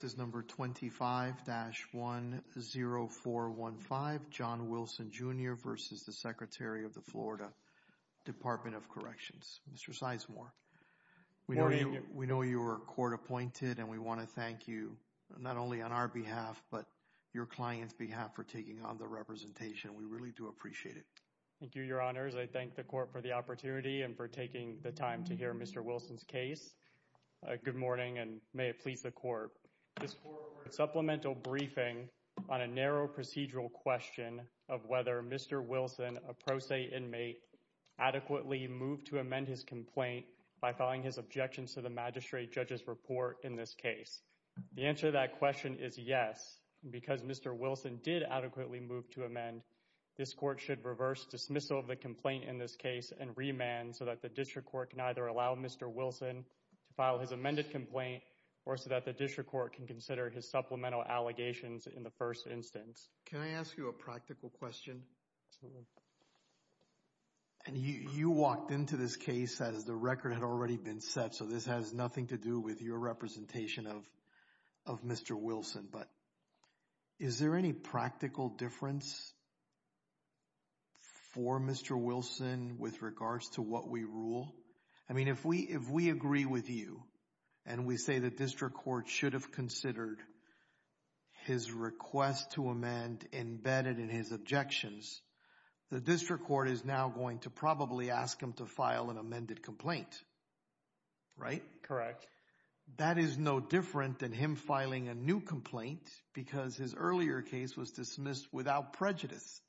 This is number 25-10415, John Wilson Jr. v. Secretary of the Florida Department of Corrections. Mr. Sizemore, we know you were court appointed and we want to thank you not only on our behalf but your client's behalf for taking on the representation. We really do appreciate it. Thank you, your honors. I thank the court for the opportunity and for taking the time to hear Mr. Wilson's case. Good morning and may it please the court. This court ordered a supplemental briefing on a narrow procedural question of whether Mr. Wilson, a pro se inmate, adequately moved to amend his complaint by filing his objections to the magistrate judge's report in this case. The answer to that question is yes. Because Mr. Wilson did adequately move to amend, this court should reverse dismissal of the complaint in this case and remand so that the district court can either allow Mr. Wilson to file his amended complaint or so that the district court can consider his supplemental allegations in the first instance. Can I ask you a practical question? Absolutely. And you walked into this case as the record had already been set so this has nothing to do with your representation of Mr. Wilson, but is there any practical difference for Mr. Wilson with regards to what we rule? I mean, if we agree with you and we say the district court should have considered his request to amend embedded in his objections, the district court is now going to probably ask him to file an amended complaint, right? Correct. That is no different than him filing a new complaint because his earlier case was dismissed without prejudice.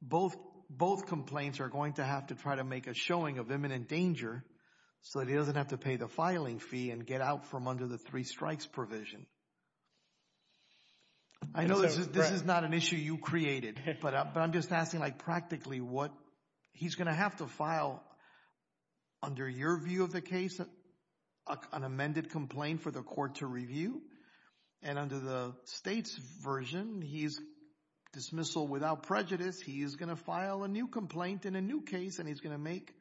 Both complaints are going to have to try to make a showing of imminent danger so that he doesn't have to pay the filing fee and get out from under the three strikes provision. I know this is not an issue you created, but I'm just asking like practically what he's going to have to file under your view of the case, an amended complaint for the court to review, and under the state's version, he's dismissal without prejudice, he's going to file a new complaint in a new case and he's going to make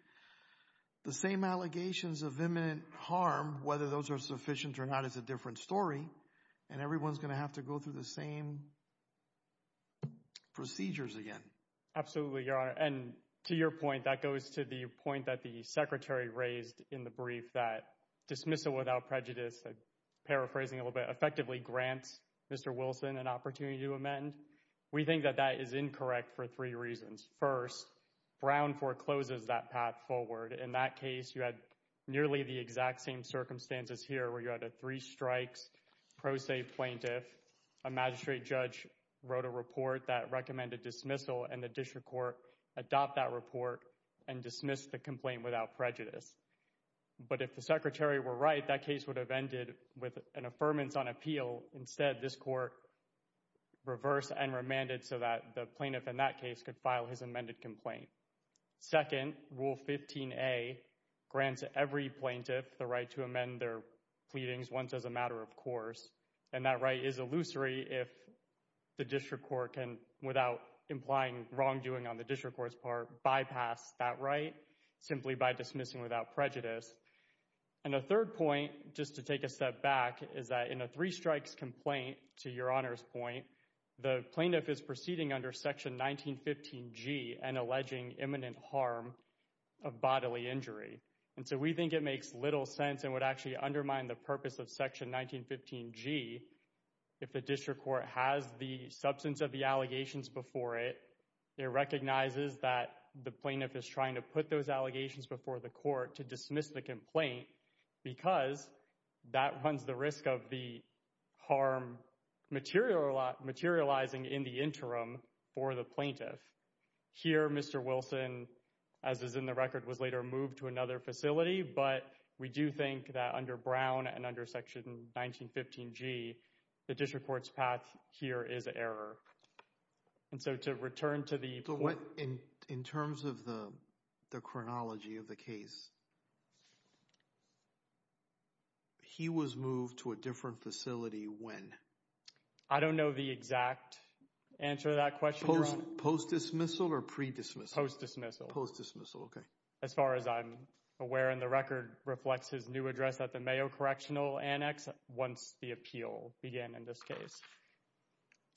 the same allegations of imminent harm, whether those are sufficient or not is a different story, and everyone's going to have to go through the same procedures again. Absolutely, Your Honor. And to your point, that goes to the point that the Secretary raised in the brief that dismissal without prejudice, paraphrasing a little bit, effectively grants Mr. Wilson an opportunity to amend. We think that that is incorrect for three reasons. First, Brown forecloses that path forward. In that case, you had nearly the exact same circumstances here where you had a three strikes pro se plaintiff, a magistrate judge wrote a report that recommended dismissal, and the district court adopted that report and dismissed the complaint without prejudice. But if the Secretary were right, that case would have ended with an affirmance on appeal. Instead, this court reversed and remanded so that the plaintiff in that case could file his amended complaint. Second, Rule 15A grants every plaintiff the right to amend their pleadings once as a matter of course, and that right is illusory if the district court can, without implying wrongdoing on the district court's part, bypass that right simply by dismissing without prejudice. And a third point, just to take a step back, is that in a three strikes complaint, to Your Honor's point, the plaintiff is proceeding under Section 1915G and alleging imminent harm of bodily injury. And so we think it makes little sense and would actually undermine the purpose of Section 1915G if the district court has the substance of the allegations before it, it recognizes that the plaintiff is trying to put those allegations before the court to dismiss the complaint because that runs the risk of the harm materializing in the interim for the plaintiff. Here, Mr. Wilson, as is in the record, was later moved to another facility, but we do think that under Brown and under Section 1915G, the district court's path here is error. And so to return to the point— So what, in terms of the chronology of the case, he was moved to a different facility when? I don't know the exact answer to that question, Your Honor. Post-dismissal or pre-dismissal? Post-dismissal. Post-dismissal, okay. As far as I'm aware, and the record reflects his new address at the Mayo Correctional Annex once the appeal began in this case.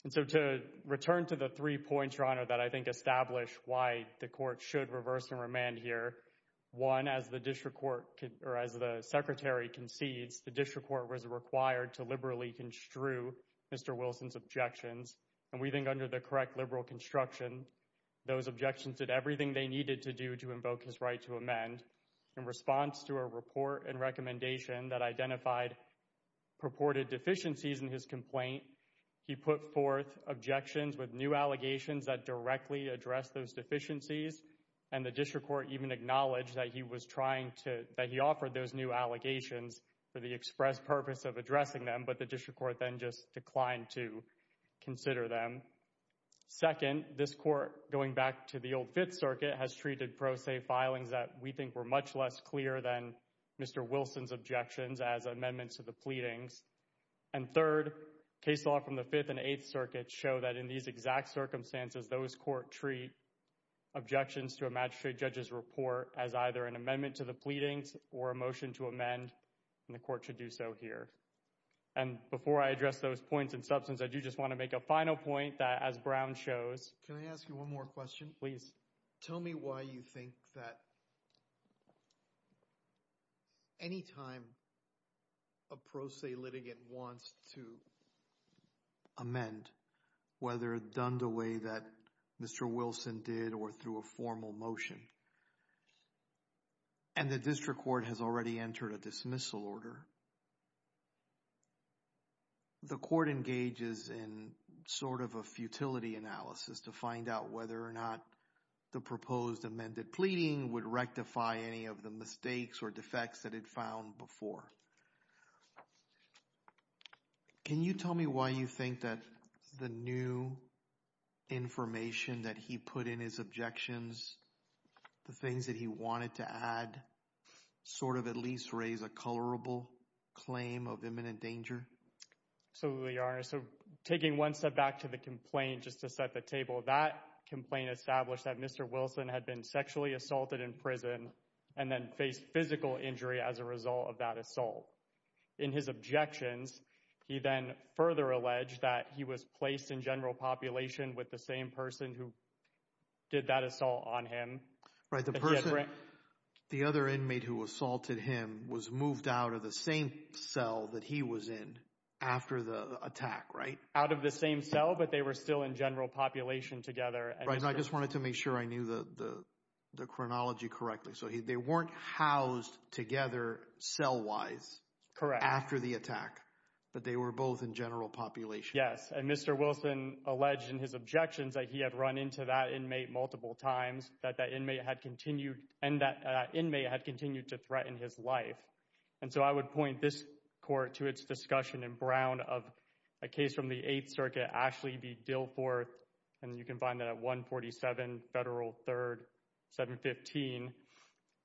And so to return to the three points, Your Honor, that I think establish why the court should reverse and remand here, one, as the district court—or as the Secretary concedes, the district court was required to liberally construe Mr. Wilson's objections, and we think under the correct liberal construction, those objections did everything they needed to do to invoke his right to amend. In response to a report and recommendation that identified purported deficiencies in his complaint, he put forth objections with new allegations that directly addressed those deficiencies, and the district court even acknowledged that he was trying to—that he offered those new allegations for the express purpose of addressing them, but the district court then just declined to consider them. Second, this court, going back to the old Fifth Circuit, has treated pro se filings that we think were much less clear than Mr. Wilson's objections as amendments to the pleadings. And third, case law from the Fifth and Eighth Circuits show that in these exact circumstances, those court treat objections to a magistrate judge's report as either an amendment to the pleadings or a motion to amend, and the court should do so here. And before I address those points in substance, I do just want to make a final point that as Brown shows— Can I ask you one more question? Please. Tell me why you think that any time a pro se litigant wants to amend, whether done the way that Mr. Wilson did or through a formal motion, and the district court has already entered a dismissal order, the court engages in sort of a futility analysis to find out whether or not the proposed amended pleading would rectify any of the mistakes or defects that it found before. Can you tell me why you think that the new information that he put in his objections, the things that he wanted to add, sort of at least raise a colorable claim of information that was imminent danger? Absolutely, Your Honor. So taking one step back to the complaint, just to set the table, that complaint established that Mr. Wilson had been sexually assaulted in prison and then faced physical injury as a result of that assault. In his objections, he then further alleged that he was placed in general population with the same person who did that assault on him. Right, the person, the other inmate who assaulted him was moved out of the same cell that he was in after the attack, right? Out of the same cell, but they were still in general population together. Right, and I just wanted to make sure I knew the chronology correctly. So they weren't housed together cell-wise after the attack, but they were both in general population. Yes, and Mr. Wilson alleged in his objections that he had run into that inmate multiple times, that that inmate had continued, and that inmate had continued to threaten his life. And so I would point this court to its discussion in Brown of a case from the Eighth Circuit, Ashley v. Dilforth, and you can find that at 147 Federal 3rd, 715,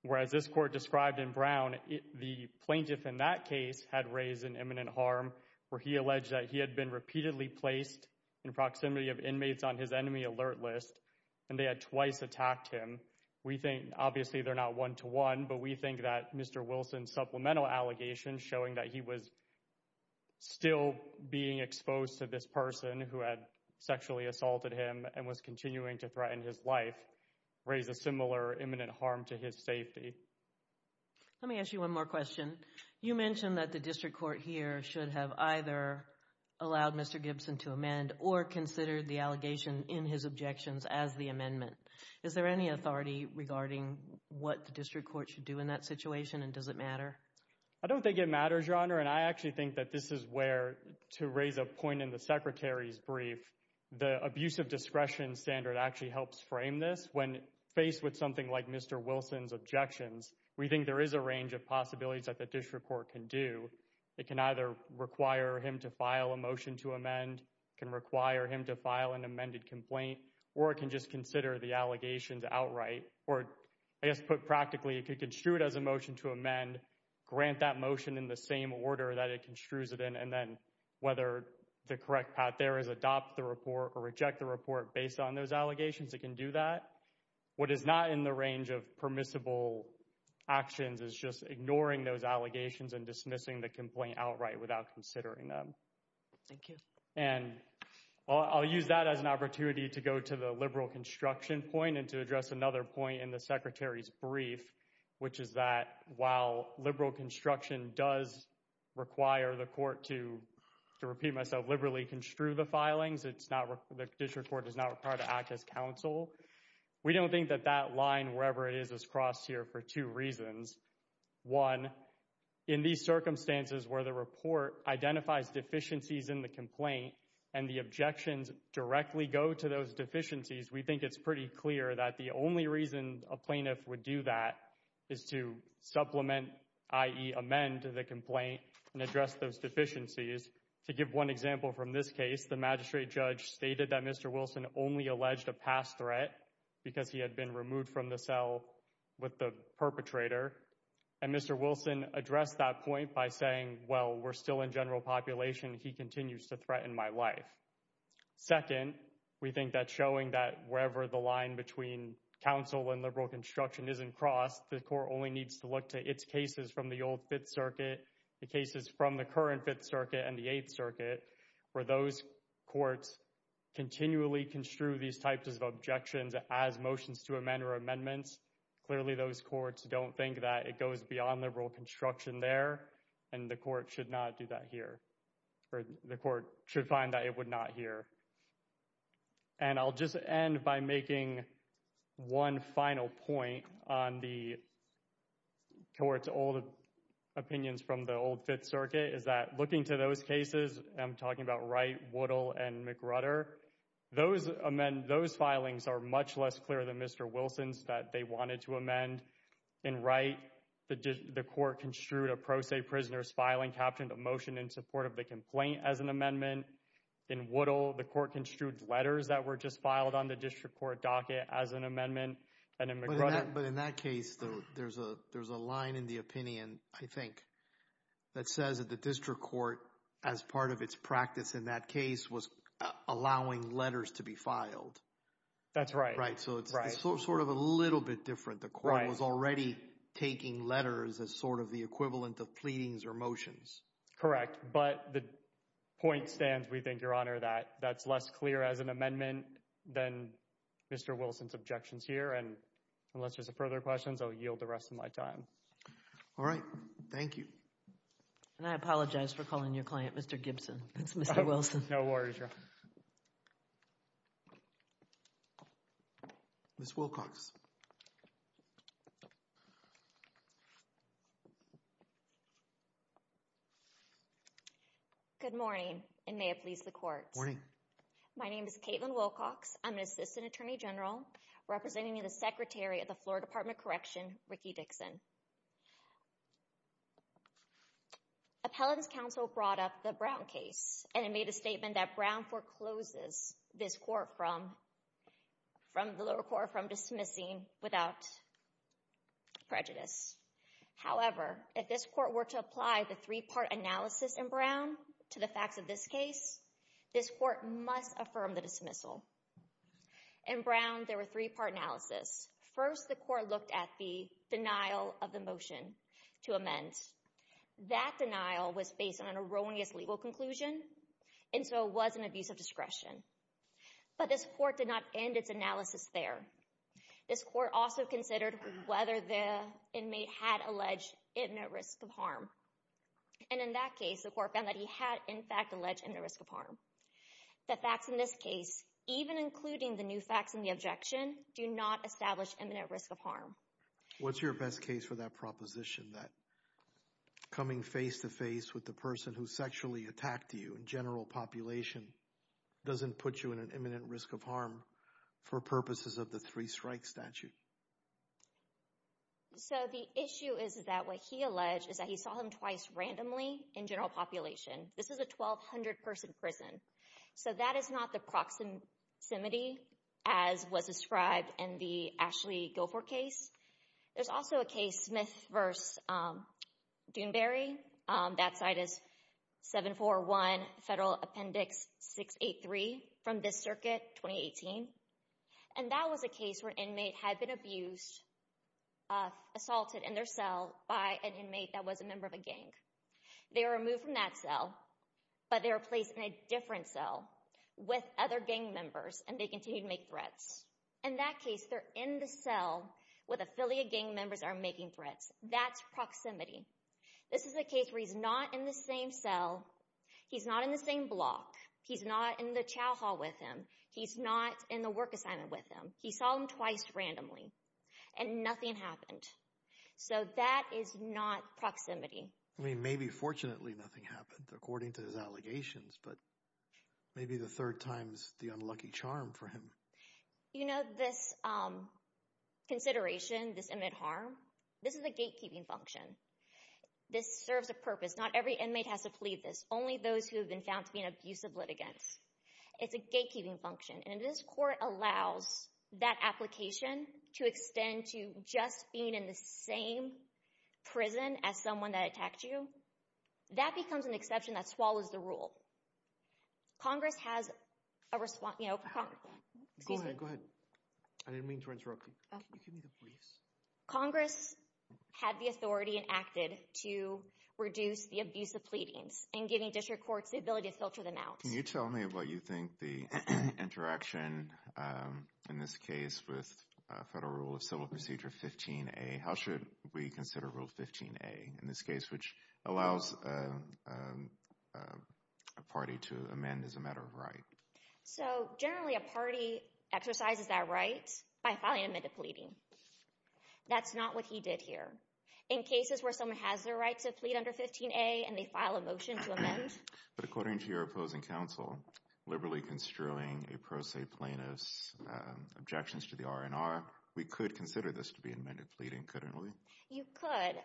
whereas this court described in Brown, the plaintiff in that case had raised an imminent harm where he alleged that he had been repeatedly placed in proximity of inmates on his enemy alert list, and they had twice attacked him. We think, obviously they're not one-to-one, but we think that Mr. Wilson's supplemental allegations showing that he was still being exposed to this person who had sexually assaulted him and was continuing to threaten his life raise a similar imminent harm to his safety. Let me ask you one more question. You mentioned that the district court here should have either allowed Mr. Gibson to amend or considered the allegation in his objections as the amendment. Is there any authority regarding what the district court should do in that situation, and does it matter? I don't think it matters, Your Honor, and I actually think that this is where, to raise a point in the Secretary's brief, the abuse of discretion standard actually helps frame this. When faced with something like Mr. Wilson's objections, we think there is a range of possibilities that the district court can do. It can either require him to file a motion to amend, can require him to file an amended complaint, or it can just consider the allegations outright, or I guess put practically, it could construe it as a motion to amend, grant that motion in the same order that it construes it in, and then whether the correct path there is adopt the report or reject the report based on those allegations, it can do that. What is not in the range of permissible actions is just ignoring those allegations and dismissing the complaint outright without considering them. And I'll use that as an opportunity to go to the liberal construction point and to address another point in the Secretary's brief, which is that while liberal construction does require the court to, to repeat myself, liberally construe the filings, the district court does not require to act as counsel. We don't think that that line, wherever it is, is crossed here for two reasons. One, in these circumstances where the report identifies deficiencies in the complaint and the objections directly go to those deficiencies, we think it's pretty clear that the only reason a plaintiff would do that is to supplement, i.e. amend the complaint and address those deficiencies. To give one example from this case, the magistrate judge stated that Mr. Wilson only alleged a past threat because he had been removed from the cell with the perpetrator, and Mr. Wilson addressed that point by saying, well, we're still in general population, he continues to threaten my life. Second, we think that showing that wherever the line between counsel and liberal construction isn't crossed, the court only needs to look to its cases from the old Fifth Circuit, the cases from the current Fifth Circuit and the Eighth Circuit, where those courts continually construe these types of objections as motions to amend or amendments. Clearly, those courts don't think that it goes beyond liberal construction there, and the court should not do that here, or the court should find that it would not here. And I'll just end by making one final point on the court's old opinions from the old Fifth Circuit, is that looking to those cases, and I'm talking about Wright, Woodall, and McRutter, those filings are much less clear than Mr. Wilson's that they wanted to amend. In Wright, the court construed a pro se prisoner's filing, captioned a motion in support of the complaint as an amendment. In Woodall, the court construed letters that were just filed on the district court docket as an amendment, and in McRutter— But in that case, though, there's a line in the opinion, I think, that says that the filed. That's right. Right, so it's sort of a little bit different. The court was already taking letters as sort of the equivalent of pleadings or motions. Correct, but the point stands, we think, Your Honor, that that's less clear as an amendment than Mr. Wilson's objections here, and unless there's further questions, I'll yield the rest of my time. All right, thank you. And I apologize for calling your client Mr. Gibson. It's Mr. Wilson. No worries, Your Honor. Ms. Wilcox. Good morning, and may it please the court. My name is Kaitlyn Wilcox. I'm an assistant attorney general representing the secretary of the Florida Department of Correction, Ricky Dixon. Appellant's counsel brought up the Brown case, and it made a statement that Brown forecloses this court from—from the lower court from dismissing without prejudice. However, if this court were to apply the three-part analysis in Brown to the facts of this case, this court must affirm the dismissal. In Brown, there were three-part analysis. First, the court looked at the denial of the motion to amend. That denial was based on an erroneous legal conclusion, and so it was an abuse of discretion. But this court did not end its analysis there. This court also considered whether the inmate had alleged imminent risk of harm. And in that case, the court found that he had, in fact, alleged imminent risk of harm. The facts in this case, even including the new facts in the objection, do not establish imminent risk of harm. What's your best case for that proposition, that coming face-to-face with the person who sexually attacked you in general population doesn't put you in an imminent risk of harm for purposes of the three-strike statute? So the issue is that what he alleged is that he saw him twice randomly in general population. This is a 1,200-person prison. So that is not the proximity as was described in the Ashley Guilford case. There's also a case, Smith v. Doonbury. That site is 741 Federal Appendix 683 from this circuit, 2018. And that was a case where an inmate had been abused, assaulted in their cell by an inmate that was a member of a gang. They were removed from that cell, but they were placed in a different cell with other gang members, and they continued to make threats. In that case, they're in the cell where the affiliate gang members are making threats. That's proximity. This is a case where he's not in the same cell. He's not in the same block. He's not in the chow hall with him. He's not in the work assignment with him. He saw him twice randomly, and nothing happened. So that is not proximity. Maybe fortunately nothing happened according to his allegations, but maybe the third time's the unlucky charm for him. You know, this consideration, this inmate harm, this is a gatekeeping function. This serves a purpose. Not every inmate has to plead this. Only those who have been found to be an abusive litigant. It's a gatekeeping function, and this court allows that application to extend to just being in the same prison as someone that attacked you. That becomes an exception that swallows the rule. Congress has a response, you know... Go ahead, go ahead. I didn't mean to interrupt you. Congress had the authority and acted to reduce the abuse of pleadings and giving district courts the ability to filter them out. Can you tell me what you think the interaction in this case with federal rule of civil procedure 15A, how should we consider rule 15A in this case, which allows a party to amend as a matter of right? So generally a party exercises that right by filing an amend to pleading. That's not what he did here. In cases where someone has the right to plead under 15A and they file a motion to amend... But according to your opposing counsel, liberally construing a pro se plaintiff's objections to the R&R, we could consider this to be amended pleading, couldn't we? You could.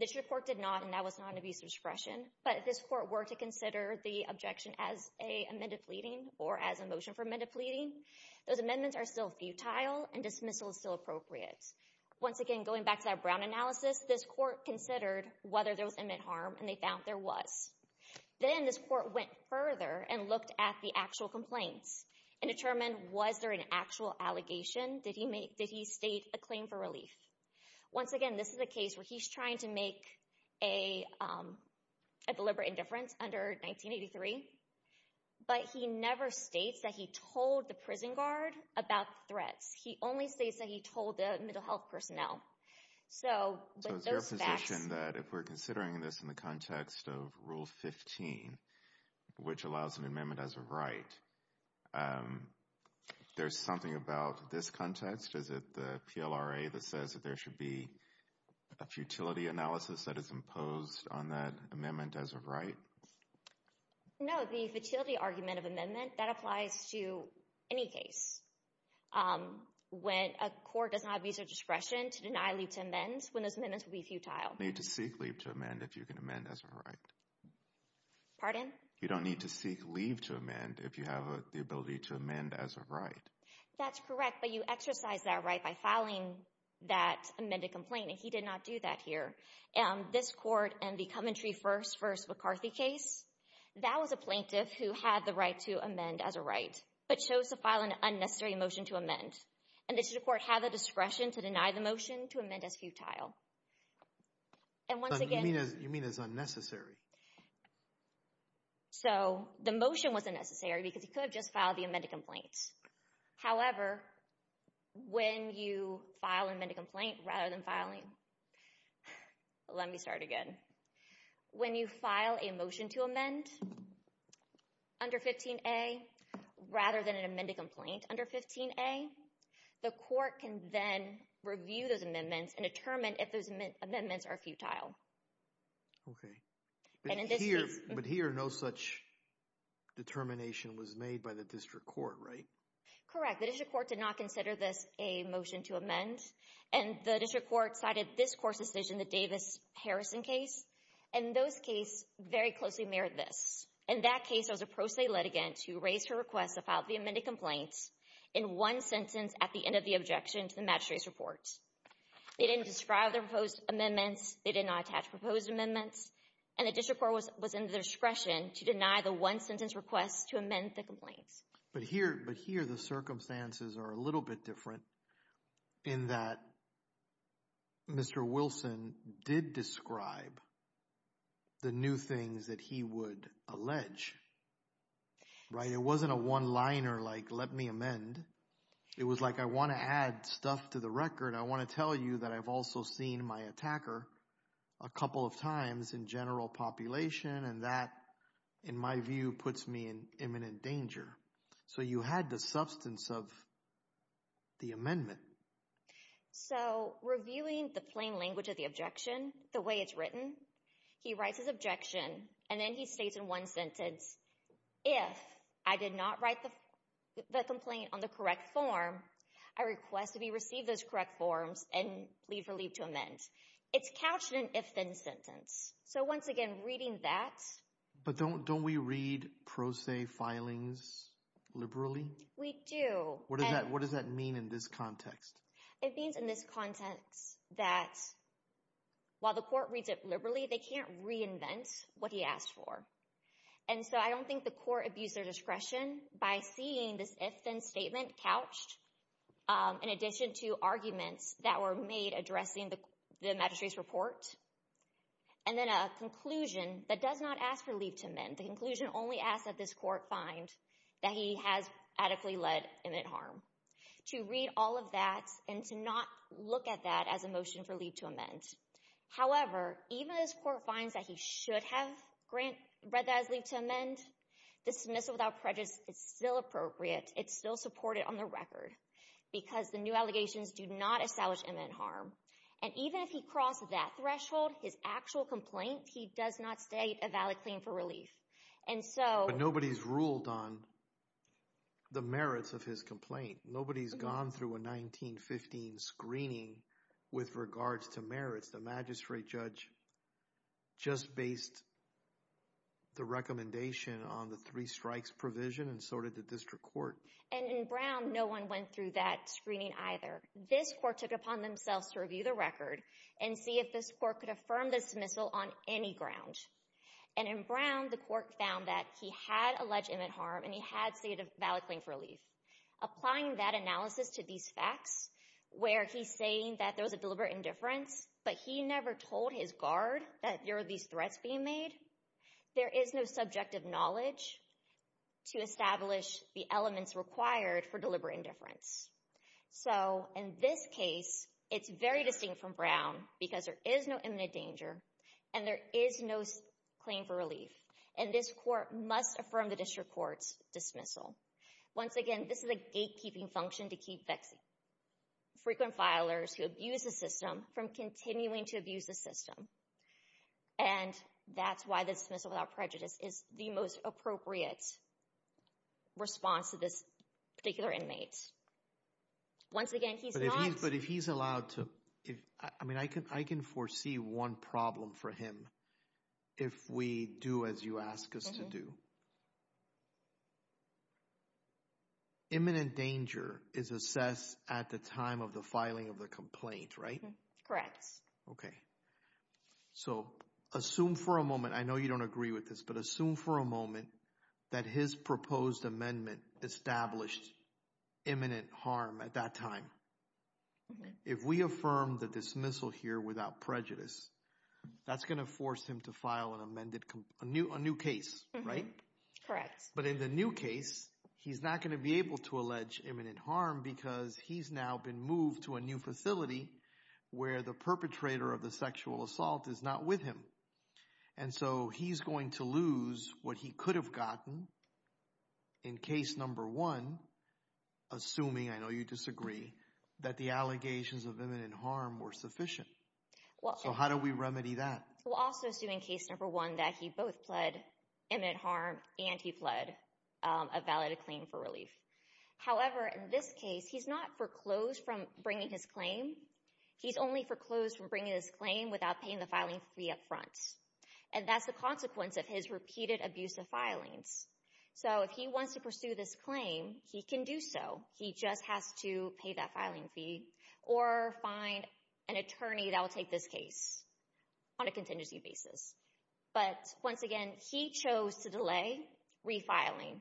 This report did not, and that was not an abuse of discretion. But if this court were to consider the objection as a amended pleading or as a motion for amended pleading, those amendments are still futile and dismissal is still appropriate. Once again, going back to that Brown analysis, this court considered whether there was inmate harm, and they found there was. Then this court went further and looked at the actual complaints and determined, was there an actual allegation? Did he state a claim for relief? Once again, this is a case where he's trying to make a deliberate indifference under 1983, but he never states that he told the prison guard about threats. He only states that he told the mental health personnel. So with those facts... There's something about this context. Is it the PLRA that says that there should be a futility analysis that is imposed on that amendment as a right? No, the futility argument of amendment, that applies to any case. When a court does not abuse their discretion to deny leave to amend, when those amendments will be futile. Need to seek leave to amend if you can amend as a right. Pardon? You don't need to seek leave to amend if you have the ability to amend as a right. That's correct, but you exercise that right by filing that amended complaint, and he did not do that here. And this court and the Coventry First v. McCarthy case, that was a plaintiff who had the right to amend as a right, but chose to file an unnecessary motion to amend. And this court had the discretion to deny the motion to amend as futile. And once again... You mean as unnecessary? As futile. So the motion wasn't necessary because he could have just filed the amended complaint. However, when you file an amended complaint rather than filing... Let me start again. When you file a motion to amend under 15A, rather than an amended complaint under 15A, the court can then review those amendments and determine if those amendments are futile. Okay. But here, no such determination was made by the district court, right? Correct. The district court did not consider this a motion to amend, and the district court cited this court's decision, the Davis-Harrison case, and those cases very closely mirrored this. In that case, there was a pro se litigant who raised her request to file the amended complaint in one sentence at the end of the objection to the magistrate's report. They didn't describe their proposed amendments. They did not attach proposed amendments. And the district court was in the discretion to deny the one-sentence request to amend the complaints. But here, the circumstances are a little bit different in that Mr. Wilson did describe the new things that he would allege, right? It wasn't a one-liner like, let me amend. It was like, I want to add stuff to the record. I want to tell you that I've also seen my attacker a couple of times in general population, and that, in my view, puts me in imminent danger. So you had the substance of the amendment. So reviewing the plain language of the objection, the way it's written, he writes his objection, and then he states in one sentence, if I did not write the complaint on the correct form, I request that he receive those correct forms and leave for leave to amend. It's couched in an if-then sentence. So once again, reading that. But don't we read pro se filings liberally? We do. What does that mean in this context? It means in this context that while the court reads it liberally, they can't reinvent what he asked for. And so I don't think the court abused their discretion by seeing this if-then statement couched in addition to arguments that were made addressing the magistrate's report. And then a conclusion that does not ask for leave to amend. The conclusion only asks that this court find that he has adequately led imminent harm. To read all of that and to not look at that as a motion for leave to amend. However, even if this court finds that he should have read that as leave to amend, dismissal without prejudice is still appropriate. It's still supported on the record. Because the new allegations do not establish imminent harm. And even if he crossed that threshold, his actual complaint, he does not state a valid claim for relief. And so... But nobody's ruled on the merits of his complaint. Nobody's gone through a 1915 screening with regards to merits. The magistrate judge just based the recommendation on the three strikes provision and sorted the district court. And in Brown, no one went through that screening either. This court took it upon themselves to review the record and see if this court could affirm the dismissal on any ground. And in Brown, the court found that he had alleged imminent harm and he had stated a valid claim for relief. Applying that analysis to these facts, where he's saying that there was a deliberate indifference, but he never told his guard that there were these threats being made, there is no subjective knowledge to establish the elements required for deliberate indifference. So in this case, it's very distinct from Brown because there is no imminent danger and there is no claim for relief. And this court must affirm the district court's dismissal. Once again, this is a gatekeeping function to keep frequent filers who abuse the system from continuing to abuse the system. And that's why the dismissal without prejudice is the most appropriate response to this particular inmate. Once again, he's not... But if he's allowed to... I mean, I can foresee one problem for him if we do as you ask us to do. Imminent danger is assessed at the time of the filing of the complaint, right? Okay. So assume for a moment, I know you don't agree with this, but assume for a moment that his proposed amendment established imminent harm at that time. If we affirm the dismissal here without prejudice, that's going to force him to file a new case, right? Correct. But in the new case, he's not going to be able to allege imminent harm because he's now been moved to a new facility where the perpetrator of the sexual assault is not with him. And so he's going to lose what he could have gotten in case number one, assuming, I know you disagree, that the allegations of imminent harm were sufficient. So how do we remedy that? We'll also assume in case number one that he both pled imminent harm and he pled a valid claim for relief. However, in this case, he's not foreclosed from bringing his claim. He's only foreclosed from bringing his claim without paying the filing fee up front. And that's the consequence of his repeated abuse of filings. So if he wants to pursue this claim, he can do so. He just has to pay that filing fee or find an attorney that will take this case on a contingency basis. But once again, he chose to delay refiling.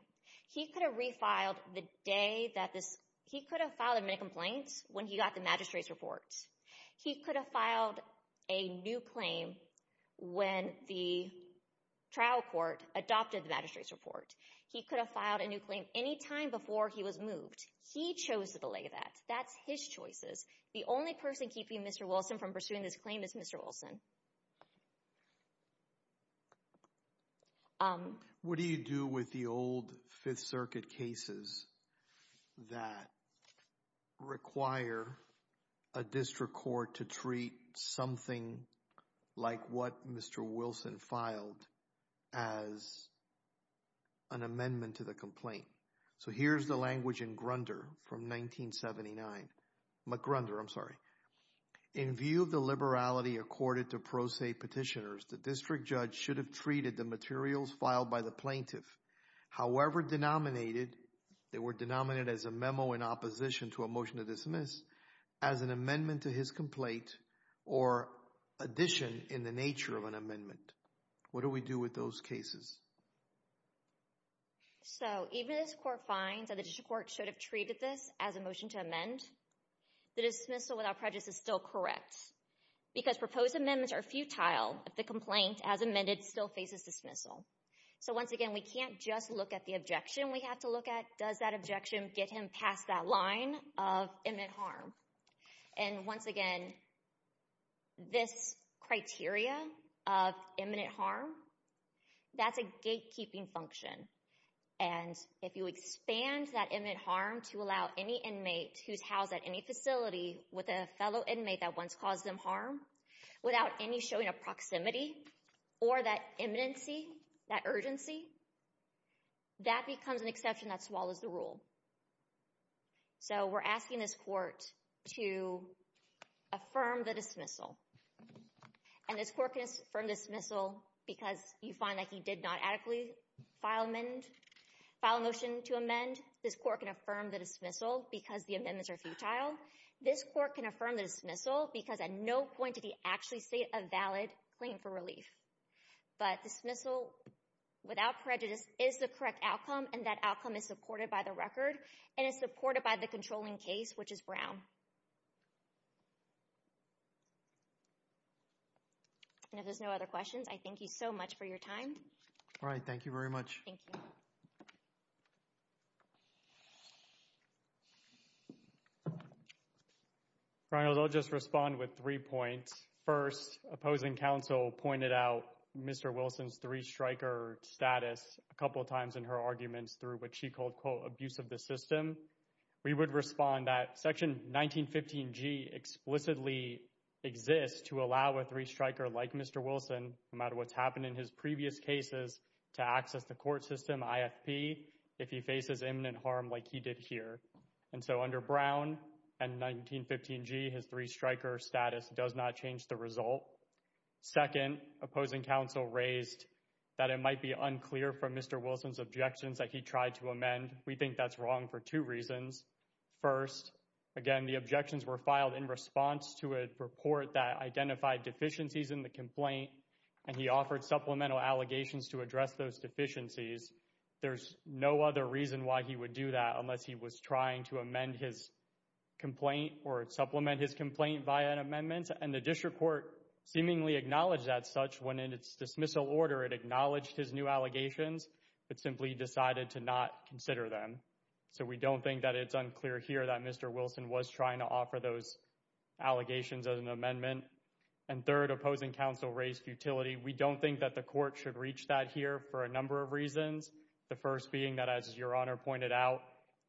He could have refiled the day that this, he could have filed a minute complaint when he got the magistrate's report. He could have filed a new claim when the trial court adopted the magistrate's report. He could have filed a new claim anytime before he was moved. He chose to delay that. That's his choices. The only person keeping Mr. Wilson from pursuing this claim is Mr. Wilson. What do you do with the old Fifth Circuit cases that require a district court to treat something like what Mr. Wilson filed as an amendment to the complaint? So here's the language in Grunder from 1979. McGrunder, I'm sorry. In view of the liberality accorded to pro se petitioners, the district judge should have treated the materials filed by the plaintiff, however denominated, they were denominated as a memo in opposition to a motion to dismiss, as an amendment to his complaint or addition in the nature of an amendment. What do we do with those cases? So even as court finds that the district court should have treated this as a motion to amend, the dismissal without prejudice is still correct because proposed amendments are futile if the complaint as amended still faces dismissal. So once again, we can't just look at the objection we have to look at. Does that objection get him past that line of imminent harm? And once again, this criteria of imminent harm, that's a gatekeeping function. And if you expand that imminent harm to allow any inmate who's housed at any facility with a fellow inmate that once caused them harm without any showing of proximity or that imminency, that urgency, that becomes an exception that swallows the rule. So we're asking this court to affirm the dismissal. And this court can affirm dismissal because you find that he did not adequately file a motion to amend. This court can affirm the dismissal because the amendments are futile. This court can affirm the dismissal because at no point did he actually say a valid claim for relief. But dismissal without prejudice is the correct outcome, and that outcome is supported by the record and is supported by the controlling case, which is Brown. And if there's no other questions, I thank you so much for your time. All right, thank you very much. Thank you. Finally, I'll just respond with three points. First, opposing counsel pointed out Mr. Wilson's three-striker status a couple of times in her arguments through what she called, quote, abuse of the system. We would respond that section 1915G explicitly exists to allow a three-striker like Mr. Wilson, no matter what's happened in his previous cases, to access the court system IFP if he faces imminent harm like he did here. And so under Brown and 1915G, his three-striker status does not change the result. Second, opposing counsel raised that it might be unclear from Mr. Wilson's objections that he tried to amend. We think that's wrong for two reasons. First, again, the objections were filed in response to a report that identified deficiencies in the complaint, and he offered supplemental allegations to address those deficiencies. There's no other reason why he would do that unless he was trying to amend his complaint or supplement his complaint via an amendment. And the district court seemingly acknowledged that such when in its dismissal order, it acknowledged his new allegations, but simply decided to not consider them. So we don't think that it's unclear here that Mr. Wilson was trying to offer those allegations as an amendment. And third, opposing counsel raised futility. We don't think that the court should reach that here for a number of reasons. The first being that, as Your Honor pointed out,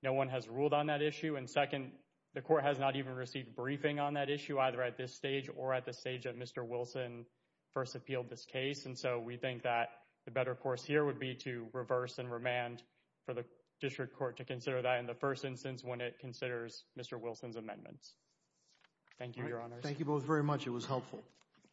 no one has ruled on that issue. And second, the court has not even received a briefing on that issue, either at this stage or at the stage that Mr. Wilson first appealed this case. And so we think that the better course here would be to reverse and remand for the district court to consider that in the first instance when it considers Mr. Wilson's amendments. Thank you, Your Honors. Thank you both very much. It was helpful. Thank you.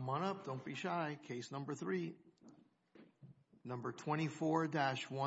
Come on up. Don't be shy. Case number three. Number 24-1.